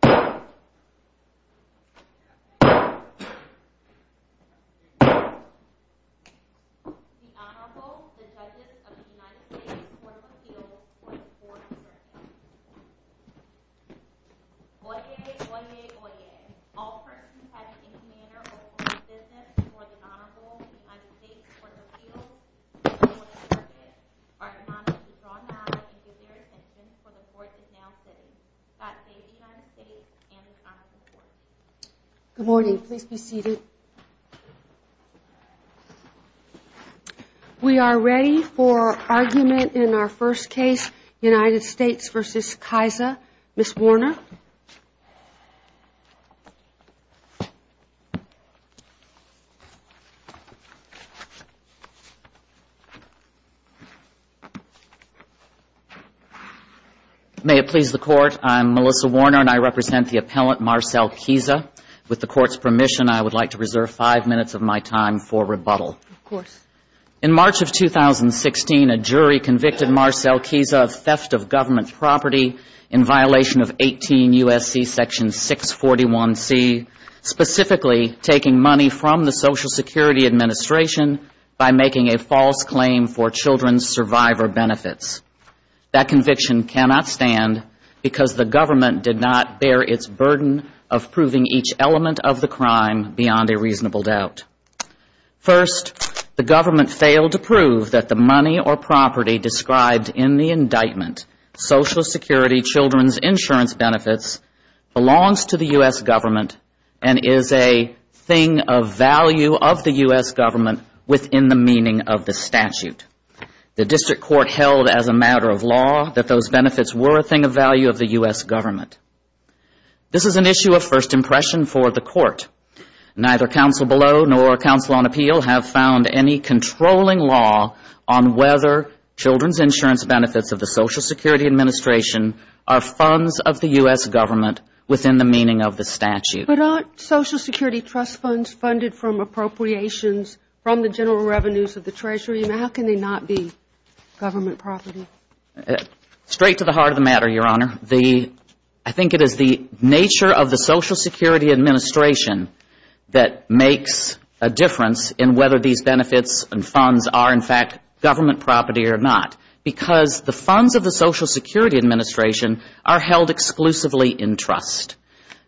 The Honorable, the Judges of the United States Court of Appeals for the Fourth Circuit. Oyez! Oyez! Oyez! All persons having any manner of open business before the Honorable United States Court of Appeals for the Fourth Circuit are to honestly draw nods and give their attention for the Court is now sitting. God save the United States and the Honorable Court. Good morning. Please be seated. We are ready for argument in our first case, United States v. Kiza. Ms. Warner. May it please the Court, I'm Melissa Warner and I represent the appellant, Marcel Kiza. With the Court's permission, I would like to reserve five minutes of my time for rebuttal. Of course. In March of 2016, a jury convicted Marcel Kiza of theft of government property in violation of 18 U.S.C. Section 641C, specifically taking money from the Social Security Administration by making a false claim for children's survivor benefits. That conviction cannot stand because the government did not bear its burden of proving each element of the crime beyond a reasonable doubt. First, the government failed to prove that the money or property described in the indictment, Social Security Children's Insurance Benefits, belongs to the U.S. government and is a thing of value of the U.S. government within the meaning of the statute. The District Court held as a matter of law that those benefits were a thing of value of the U.S. government. This is an issue of first impression for the Court. Neither counsel below nor counsel on appeal have found any controlling law on whether children's insurance benefits of the Social Security Administration are funds of the U.S. government within the meaning of the statute. But aren't Social Security trust funds funded from appropriations from the general revenues of the Treasury? How can they not be government property? Straight to the heart of the matter, Your Honor. I think it is the nature of the Social Security Administration that makes a difference in whether these benefits and funds are, in fact, government property or not, because the funds of the Social Security Administration are held exclusively in trust.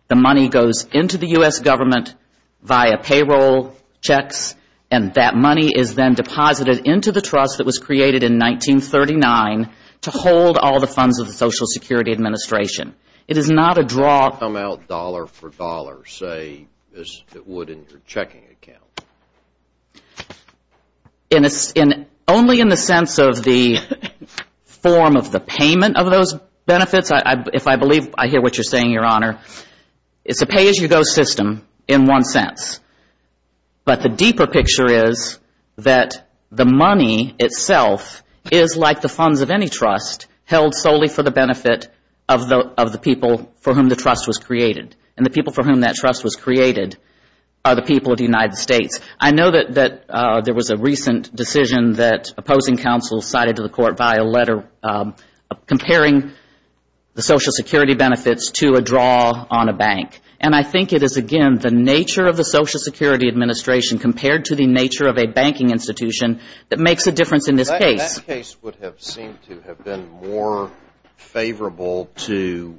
The money goes into the U.S. government via payroll checks and that money is then deposited into the trust that was created in 1939 to hold all the funds of the Social Security Administration. It is not a draw. Does it come out dollar for dollar, say, as it would in your checking account? Only in the sense of the form of the payment of those benefits, if I believe I hear what you are saying, Your Honor. It is a pay-as-you-go system in one sense. But the deeper picture is that the money itself is like the funds of any trust held solely for the benefit of the people for whom the trust was created. And the people for whom that trust was created are the people of the United States. I know that there was a recent decision that opposing counsel cited to the court by a letter comparing the Social Security benefits to a draw on a bank. And I think it is, again, the nature of the Social Security Administration compared to the nature of a banking institution that makes a difference in this case. This case would have seemed to have been more favorable to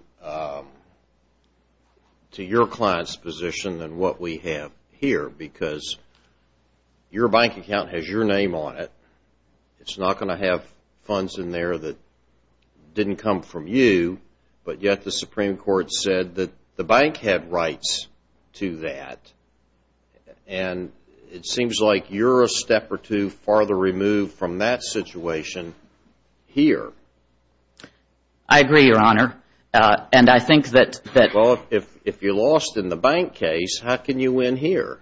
your client's position than what we have here because your bank account has your name on it. It is not going to have funds in there that did not come from you. But yet the Supreme Court said that the bank had rights to that. And it seems like you are a step or two farther removed from that situation here. I agree, Your Honor. And I think that... Well, if you lost in the bank case, how can you win here?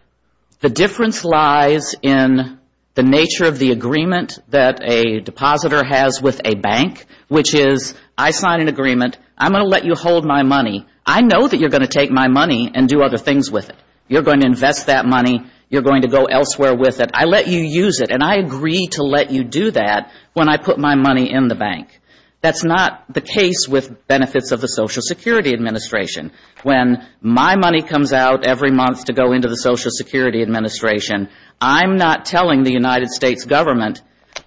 The difference lies in the nature of the agreement that a depositor has with a bank, which is I sign an agreement. I'm going to let you hold my money. I know that you're going to take my money and do other things with it. You're going to invest that money. You're going to go elsewhere with it. I let you use it. And I agree to let you do that when I put my money in the bank. That's not the case with benefits of the Social Security Administration. When my money comes out every month to go into the Social Security Administration, I'm not telling the United States government,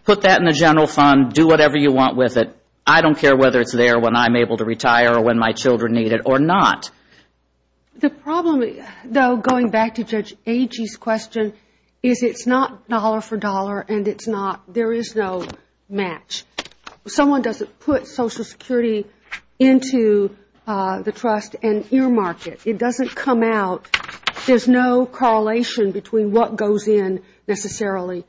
put that in the general fund, do whatever you want with it. I don't care whether it's there when I'm able to retire or when my children need it or not. The problem, though, going back to Judge Agee's question, is it's not dollar for dollar and it's not, there is no match. Someone doesn't put Social Security into the trust and earmark it. It doesn't come out. There's no correlation between what goes in necessarily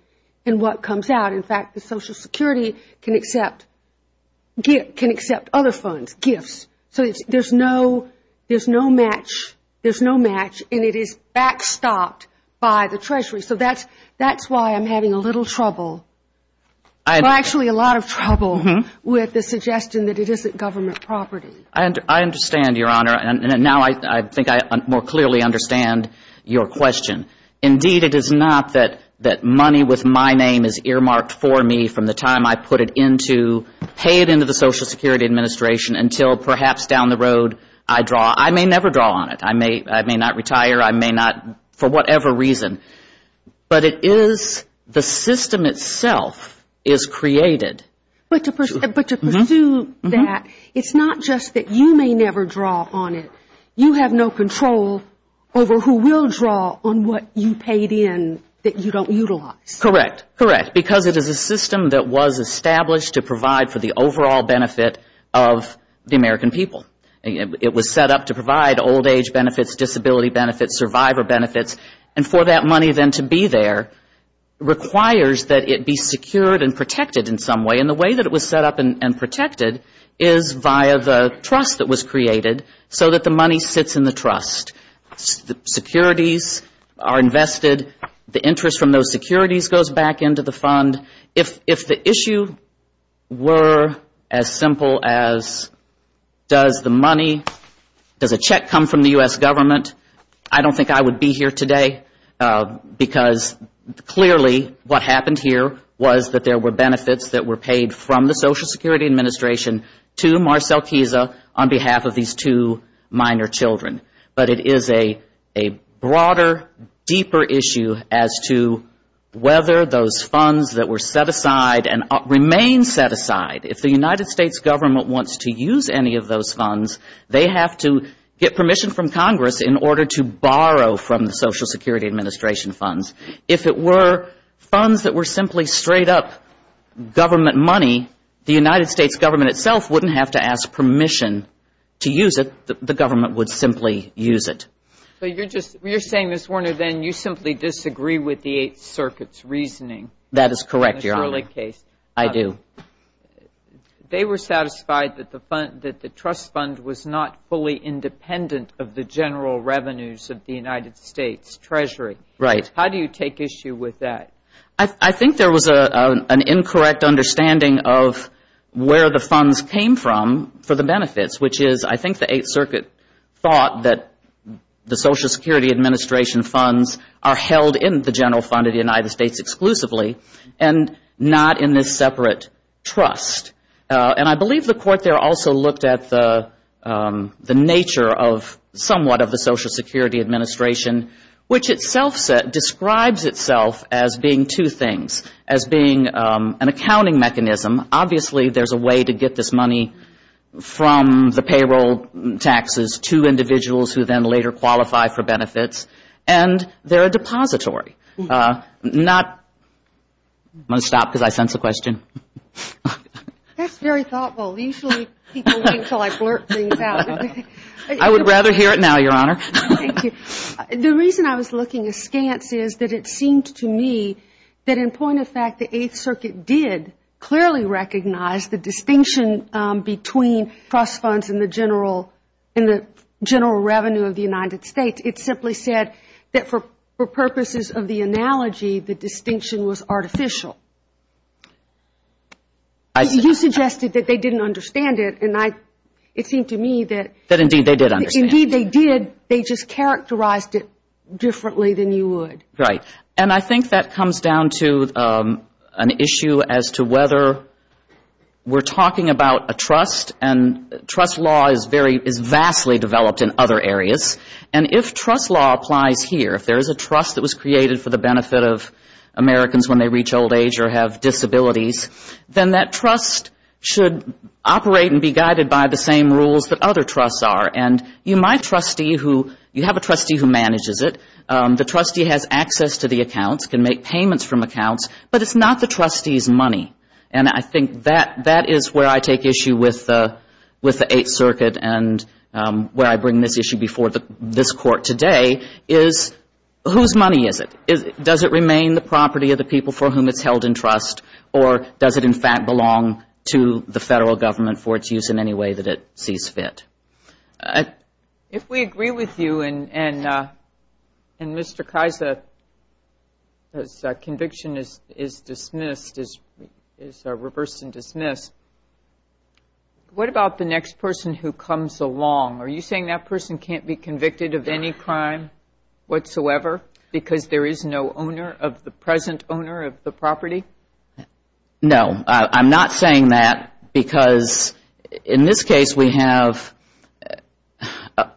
and what comes out. In fact, the Social Security can accept other funds, gifts. So there's no match and it is backstopped by the Treasury. So that's why I'm having a little trouble, actually a lot of trouble with the suggestion that it isn't government property. I understand, Your Honor. And now I think I more clearly understand your question. Indeed, it is not that money with my name is earmarked for me from the time I put it into, pay it into the Social Security Administration until perhaps down the road I draw. I may never draw on it. I may not retire. I may not, for whatever reason. But it is the system itself is created. But to pursue that, it's not just that you may never draw on it. You have no control over who will draw on what you paid in that you don't utilize. Correct. Correct. Because it is a system that was established to provide for the overall benefit of the American people. It was set up to provide old age benefits, disability benefits, survivor benefits. And for that money then to be there requires that it be secured and protected in some way. And the way that it was set up and protected is via the trust that was created so that the money sits in the trust. The securities are invested. The interest from those securities goes back into the fund. If the issue were as simple as does the money, does a check come from the U.S. government, I don't think I would be here today. Because clearly what happened here was that there were benefits that were paid from the Social Security Administration to Marcel Chiesa on behalf of these two minor children. But it is a broader, deeper issue as to whether those funds that were set aside and remain set aside, if the United States government wants to use any of those funds, they have to get permission from Congress in order to borrow from the Social Security Administration funds. If it were funds that were simply straight-up government money, the United States government itself wouldn't have to ask permission to use it. The government would simply use it. So you're saying, Ms. Warner, then you simply disagree with the Eighth Circuit's reasoning? That is correct, Your Honor. I do. They were satisfied that the trust fund was not fully independent of the general revenues of the United States Treasury. Right. How do you take issue with that? I think there was an incorrect understanding of where the funds came from for the benefits, which is I think the Eighth Circuit thought that the Social Security Administration funds are held in the general fund of the United States exclusively and not in this separate trust. And I believe the court there also looked at the nature of somewhat of the Social Security Administration, which itself describes itself as being two things, as being an accounting mechanism. Obviously, there's a way to get this money from the payroll taxes to individuals who then later qualify for benefits. And they're a depository. Want to stop because I sense a question? That's very thoughtful. Usually people wait until I blurt things out. I would rather hear it now, Your Honor. The reason I was looking askance is that it seemed to me that in point of fact the Eighth Circuit did clearly recognize the distinction between trust funds and the general revenue of the United States. It simply said that for purposes of the analogy, the distinction was artificial. You suggested that they didn't understand it. And it seemed to me that indeed they did. They just characterized it differently than you would. Right. And I think that comes down to an issue as to whether we're talking about a trust, and trust law is vastly developed in other areas. And if trust law applies here, if there is a trust that was created for the benefit of Americans when they reach old age or have died, it's guided by the same rules that other trusts are. And you might trustee who, you have a trustee who manages it. The trustee has access to the accounts, can make payments from accounts, but it's not the trustee's money. And I think that is where I take issue with the Eighth Circuit and where I bring this issue before this Court today, is whose money is it? Does it remain the property of the people for whom it's held in trust? Or does it, in fact, belong to the Federal Government for its use in any way that it sees fit? If we agree with you and Mr. Kaisa's conviction is dismissed, is reversed and dismissed, what about the next person who comes along? Are you saying that person can't be convicted of any crime whatsoever because there is no owner of the present owner of the property? No, I'm not saying that because in this case we have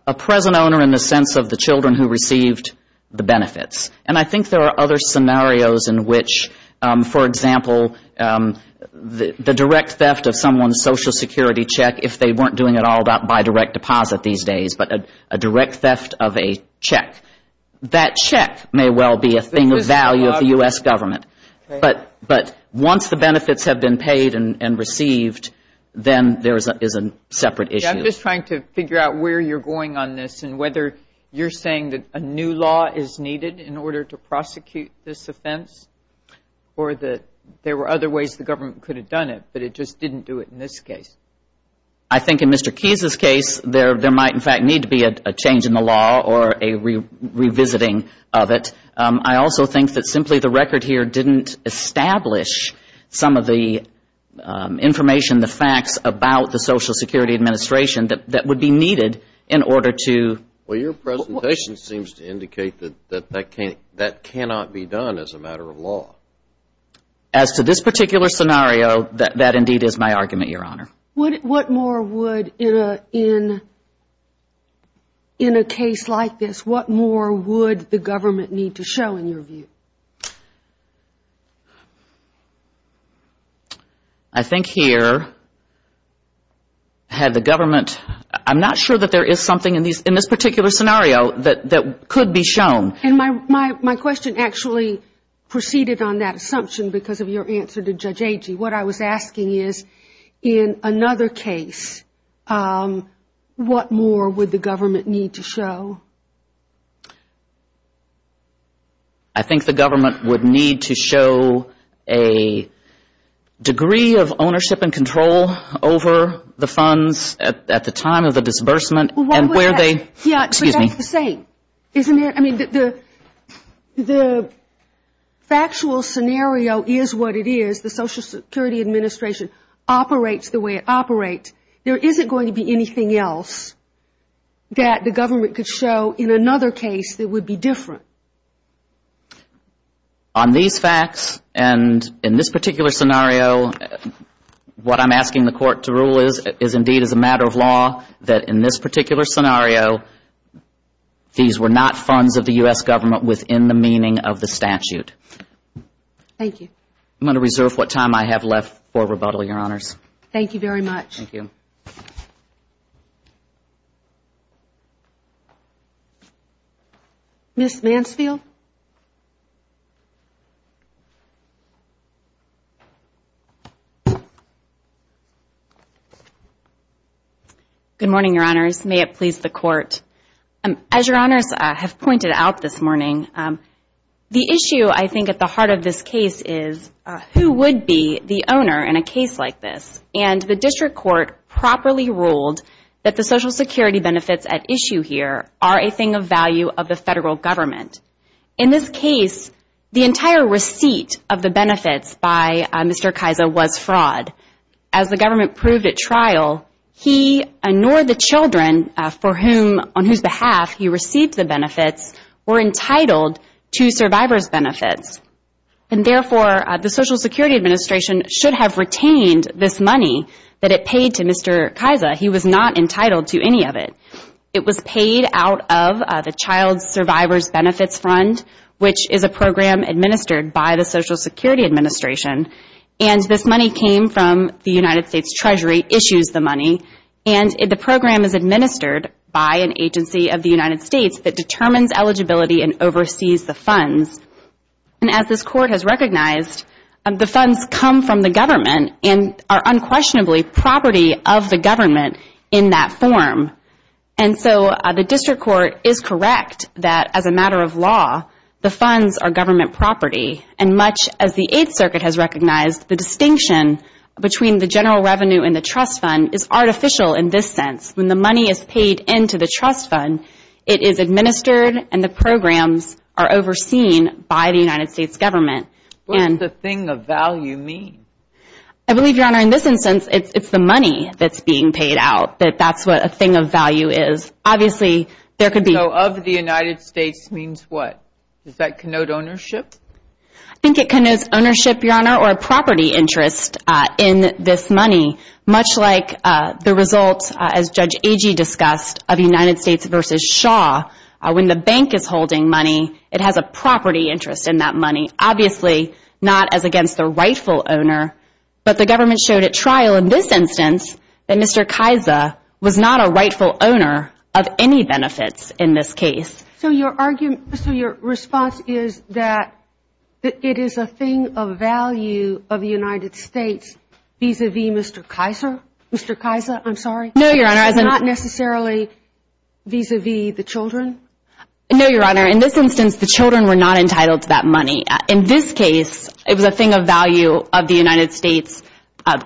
a present owner in the sense of the children who received the benefits. And I think there are other scenarios in which, for example, the direct theft of someone's Social Security check, if they weren't doing it all by direct deposit these days, but a direct theft of a check. That check may well be a thing of value of the U.S. government. But once the benefits have been paid and received, then there is a separate issue. I'm just trying to figure out where you're going on this and whether you're saying that a new law is needed in order to prosecute this offense or that there were other ways the government could have done it, but it just didn't do it in this case. I think in Mr. Keyes' case, there might, in fact, need to be a change in the law or a revisiting of it. I also think that simply the record here didn't establish some of the information, the facts about the Social Security Administration that would be needed in order to... Well, your presentation seems to indicate that that cannot be done as a matter of law. As to this particular scenario, that indeed is my argument, Your Honor. What more would, in a case like this, what more would the government need to show in your view? I think here had the government, I'm not sure that there is something in this particular scenario that could be shown. And my question actually proceeded on that assumption because of your answer to Judge Agee. What I was asking is, in another case, what more would the government need to show? I think the government would need to show a degree of ownership and control over the funds at the time of the murder. The factual scenario is what it is, the Social Security Administration operates the way it operates. There isn't going to be anything else that the government could show in another case that would be different. On these facts and in this particular scenario, what I'm asking the Court to rule is, indeed, as a matter of law, that in this particular scenario, these were not funds of the U.S. government within the meaning of the statute. I'm going to reserve what time I have left for rebuttal, Your Honors. Ms. Mansfield? Good morning, Your Honors. May it please the Court. As Your Honors have pointed out this morning, the issue I think at the heart of this case is, who would be the owner in a case like this? And the District Court properly ruled that the Social Security benefits at issue here are a thing of value of the federal government. In this case, the entire receipt of the benefits by Mr. Kaiser was fraud. As the government proved at trial, he and nor the children for whom, on whose behalf he received the benefits, were entitled to survivor's benefits. And therefore, the Social Security Administration should have retained this money that it paid to Mr. Kaiser. He was not entitled to any of it. It was paid out of the Child Survivor's Benefits Fund, which is a program administered by the Social Security Administration. And this money came from the United States Treasury issues the money. And the program is administered by an agency of the United States that determines eligibility and oversees the funds. And as this Court has recognized, the funds come from the government and are unquestionably property of the government in that form. And so the District Court is correct that as a matter of law, the funds are government property. And much as the Eighth Circuit has recognized, the distinction between the general revenue and the trust fund is artificial in this sense. When the money is paid into the trust fund, it is administered and the programs are overseen by the United States government. What does the thing of value mean? I believe, Your Honor, in this instance, it's the money that's being paid out, that that's what a thing of value is. I think it connotes ownership, Your Honor, or a property interest in this money, much like the results, as Judge Agee discussed, of United States v. Shaw. When the bank is holding money, it has a property interest in that money. Obviously not as against the rightful owner, but the government showed at trial in this instance that Mr. Kaiser was not a rightful owner of any benefits in this case. So your argument, so your response is that it is a thing of value of the United States vis-a-vis Mr. Kaiser? Mr. Kaiser, I'm sorry? No, Your Honor. It's not necessarily vis-a-vis the children? No, Your Honor. In this instance, the children were not entitled to that money. In this case, it was a thing of value of the United States,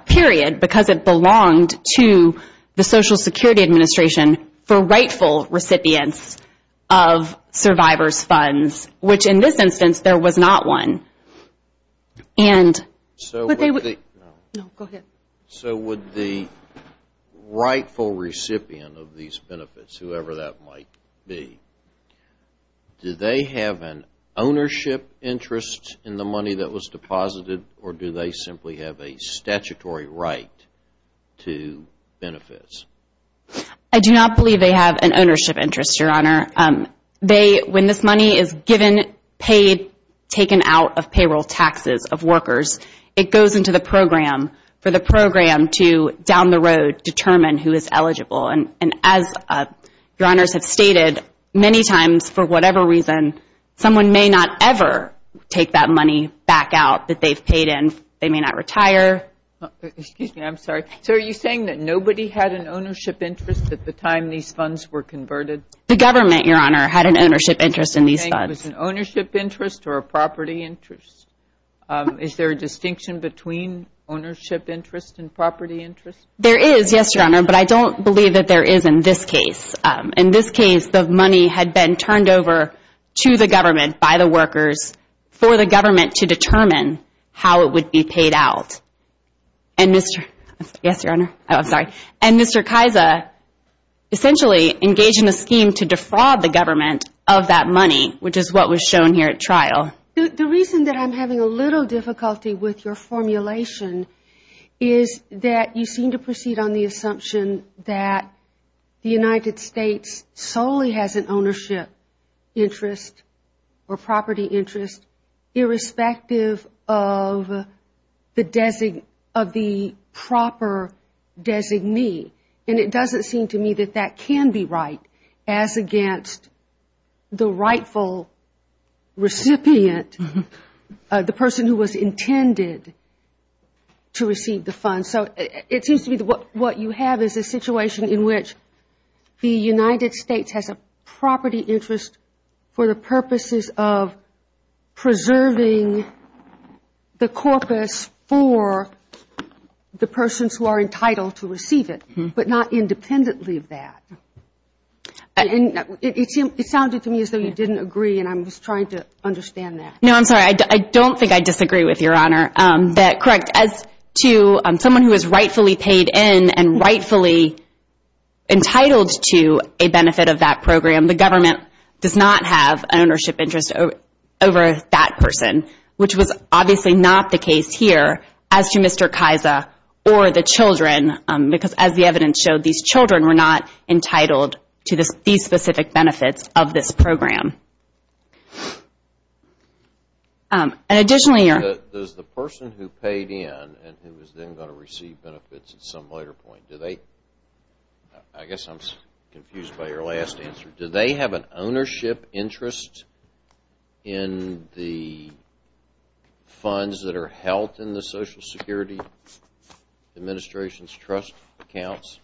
period, because it belonged to the Social Security Administration for rightful recipients of survivors' funds, which in this instance there was not one. So would the rightful recipient of these benefits, whoever that might be, be entitled to that money? Do they have an ownership interest in the money that was deposited, or do they simply have a statutory right to benefits? I do not believe they have an ownership interest, Your Honor. When this money is given, paid, taken out of payroll taxes of workers, it goes into the program for the program to, down the road, determine who is eligible. And as Your Honors have stated, many times, for whatever reason, someone may not ever take that money back out that they've paid in. They may not retire. Excuse me. I'm sorry. So are you saying that nobody had an ownership interest at the time these funds were converted? The government, Your Honor, had an ownership interest in these funds. You're saying it was an ownership interest or a property interest? Is there a distinction between ownership interest and property interest? Yes, Your Honor. And Mr. Kaiser essentially engaged in a scheme to defraud the government of that money, which is what was shown here at trial. The reason that I'm having a little difficulty with your formulation is that you seem to proceed on the assumption that the person solely has an ownership interest or property interest, irrespective of the proper designee. And it doesn't seem to me that that can be right, as against the rightful recipient, the person who was intended to receive the funds. So it seems to me that what you have is a situation in which the United States has an ownership interest and the government has an property interest for the purposes of preserving the corpus for the persons who are entitled to receive it, but not independently of that. It sounded to me as though you didn't agree, and I'm just trying to understand that. No, I'm sorry. I don't think I disagree with Your Honor. That, correct, as to someone who is rightfully paid in and rightfully entitled to a benefit of that program, the government does not have an ownership interest over that person, which was obviously not the case here, as to Mr. Kaiser or the children, because as the evidence showed, these children were not entitled to these specific benefits of this program. And additionally, Your Honor. Does the person who paid in and who is then going to receive benefits at some later point, do they, I guess I'm confused by your last answer, do they have an ownership interest in the funds that are held in the Social Security Administration's trust accounts?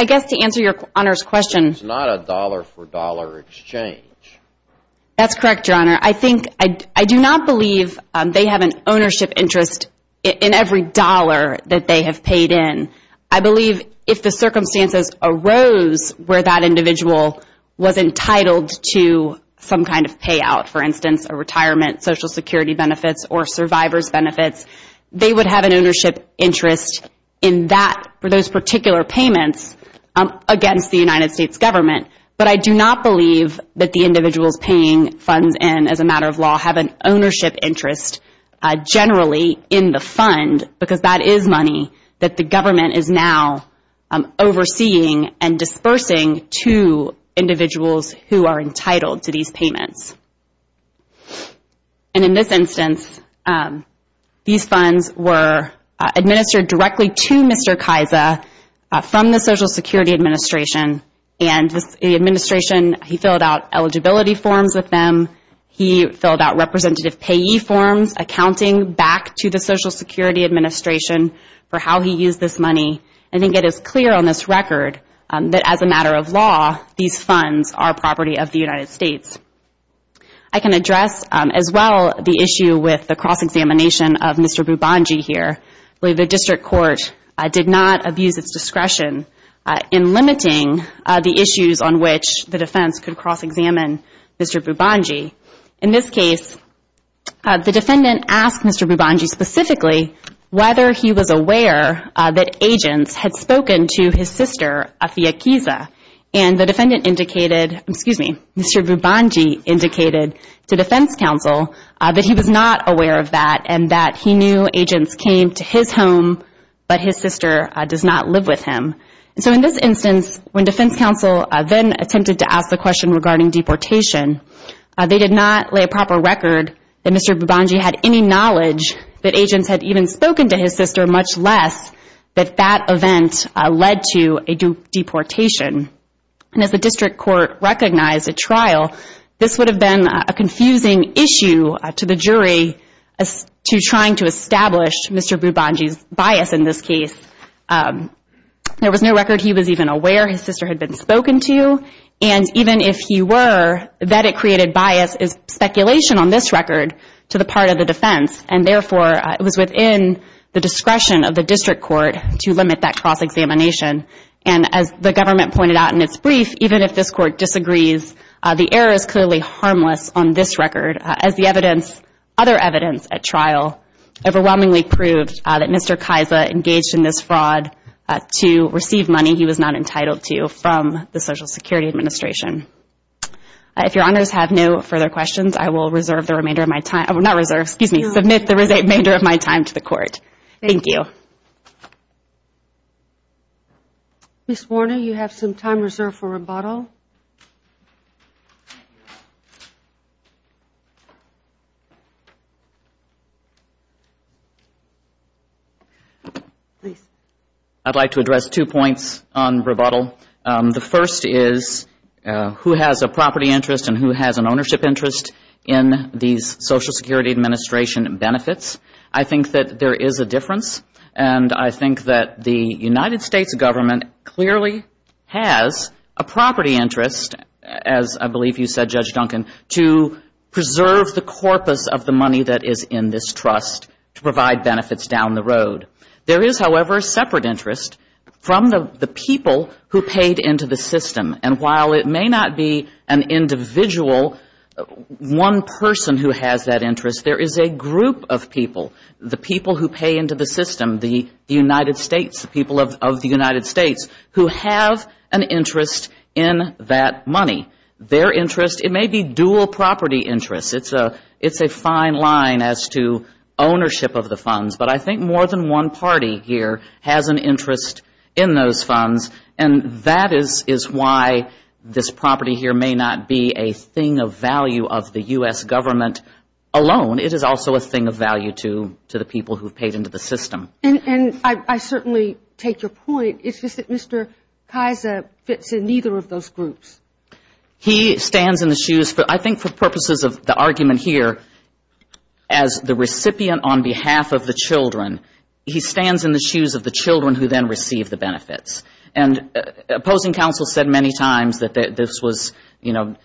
I guess to answer Your Honor's question. It's not a dollar-for-dollar exchange. That's correct, Your Honor. I think, I do not believe they have an ownership interest in every dollar that they have paid in. I believe if the circumstances arose where that individual was entitled to some kind of payout, for instance, a retirement, Social Security benefits, or survivor's benefits, they would have an ownership interest in that, for those particular payments, against the United States government. But I do not believe that the individuals paying funds in, as a matter of law, have an ownership interest generally in the fund, because that is money that the government is now overseeing and dispersing to individuals who are entitled to these payments. And in this instance, these funds were administered directly to Mr. Kaiser from the Social Security Administration. And the Administration, he filled out eligibility forms with them. He filled out representative payee forms, accounting back to the Social Security Administration for how he used this money. I think it is clear on this record that, as a matter of law, these funds are property of the United States. I can address, as well, the issue with the cross-examination of Mr. Bubongi here. The District Court did not abuse its discretion in limiting the issues on which the defense could cross-examine Mr. Bubongi. In this case, the defendant asked Mr. Bubongi specifically whether he was aware that agents had spoken to his sister, Afia Kiza. And the defendant indicated, excuse me, Mr. Bubongi indicated to defense counsel that he was not aware of that, and that he knew that agents came to his home, but his sister does not live with him. So in this instance, when defense counsel then attempted to ask the question regarding deportation, they did not lay a proper record that Mr. Bubongi had any knowledge that agents had even spoken to his sister, much less that that event led to a deportation. And as the District Court recognized at trial, this would have been a confusing issue to the jury to trying to establish Mr. Bubongi's bias in this case. There was no record he was even aware his sister had been spoken to. And even if he were, that it created bias is speculation on this record to the part of the defense. And therefore, it was within the discretion of the District Court to limit that cross-examination. And as the government pointed out in its brief, even if this court disagrees, the error is clearly harmless on this record, as the evidence, other evidence at trial overwhelmingly proved that Mr. Kaisa engaged in this fraud to receive money he was not entitled to from the Social Security Administration. If your honors have no further questions, I will reserve the remainder of my time, not reserve, excuse me, submit the remainder of my time to the Court. Thank you. Ms. Warner, you have some time reserved for rebuttal. Please. I would like to address two points on rebuttal. The first is who has a property interest and who has an ownership interest in these Social Security Administration benefits. I think that there is a difference. And I think that the United States government clearly has a property interest, as I believe you said, Judge Duncan, to preserve the corpus of the money that is in this trust to provide benefits down the road. There is, however, a separate interest from the people who paid into the system. And while it may not be an individual, one person who has that interest, there is a group of people, the people who pay into the system, the United States, the people of the United States, who have an interest in that money. Their interest, it may be dual property interests. It's a fine line as to ownership of the funds. But I think more than one party here has an interest in those funds. And that is why this property here may not be a thing of value of the U.S. government alone. It is also a thing of value to the people who have paid into the system. And I certainly take your point, it's just that Mr. Kaiser fits in neither of those groups. He stands in the shoes, I think for purposes of the argument here, as the recipient on behalf of the children, he stands in the shoes of the children who then receive the benefits. And opposing counsel said many times that this was, you know,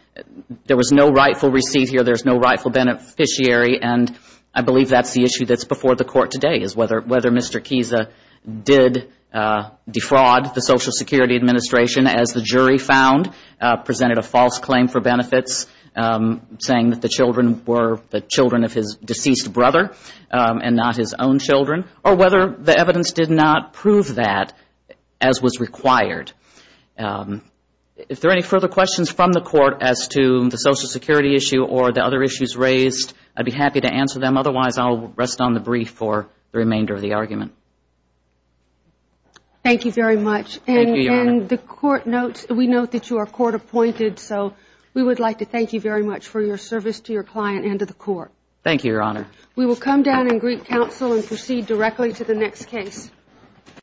there was no rightful receipt here, there's no rightful beneficiary, and I believe that's the issue that's before the court today, is whether Mr. Kiesa did defraud the Social Security Administration, as the jury found, presented a false claim for benefits, saying that the children were the children of his deceased brother and not his own children, or whether the evidence did not prove that as was required. If there are any further questions from the court as to the Social Security issue or the other issues raised, I'd be happy to answer them, otherwise I'll rest on the brief for the remainder of the argument. Thank you very much. And the court notes, we note that you are court appointed, so we would like to thank you very much for your service to your client and to the court. Thank you, Your Honor.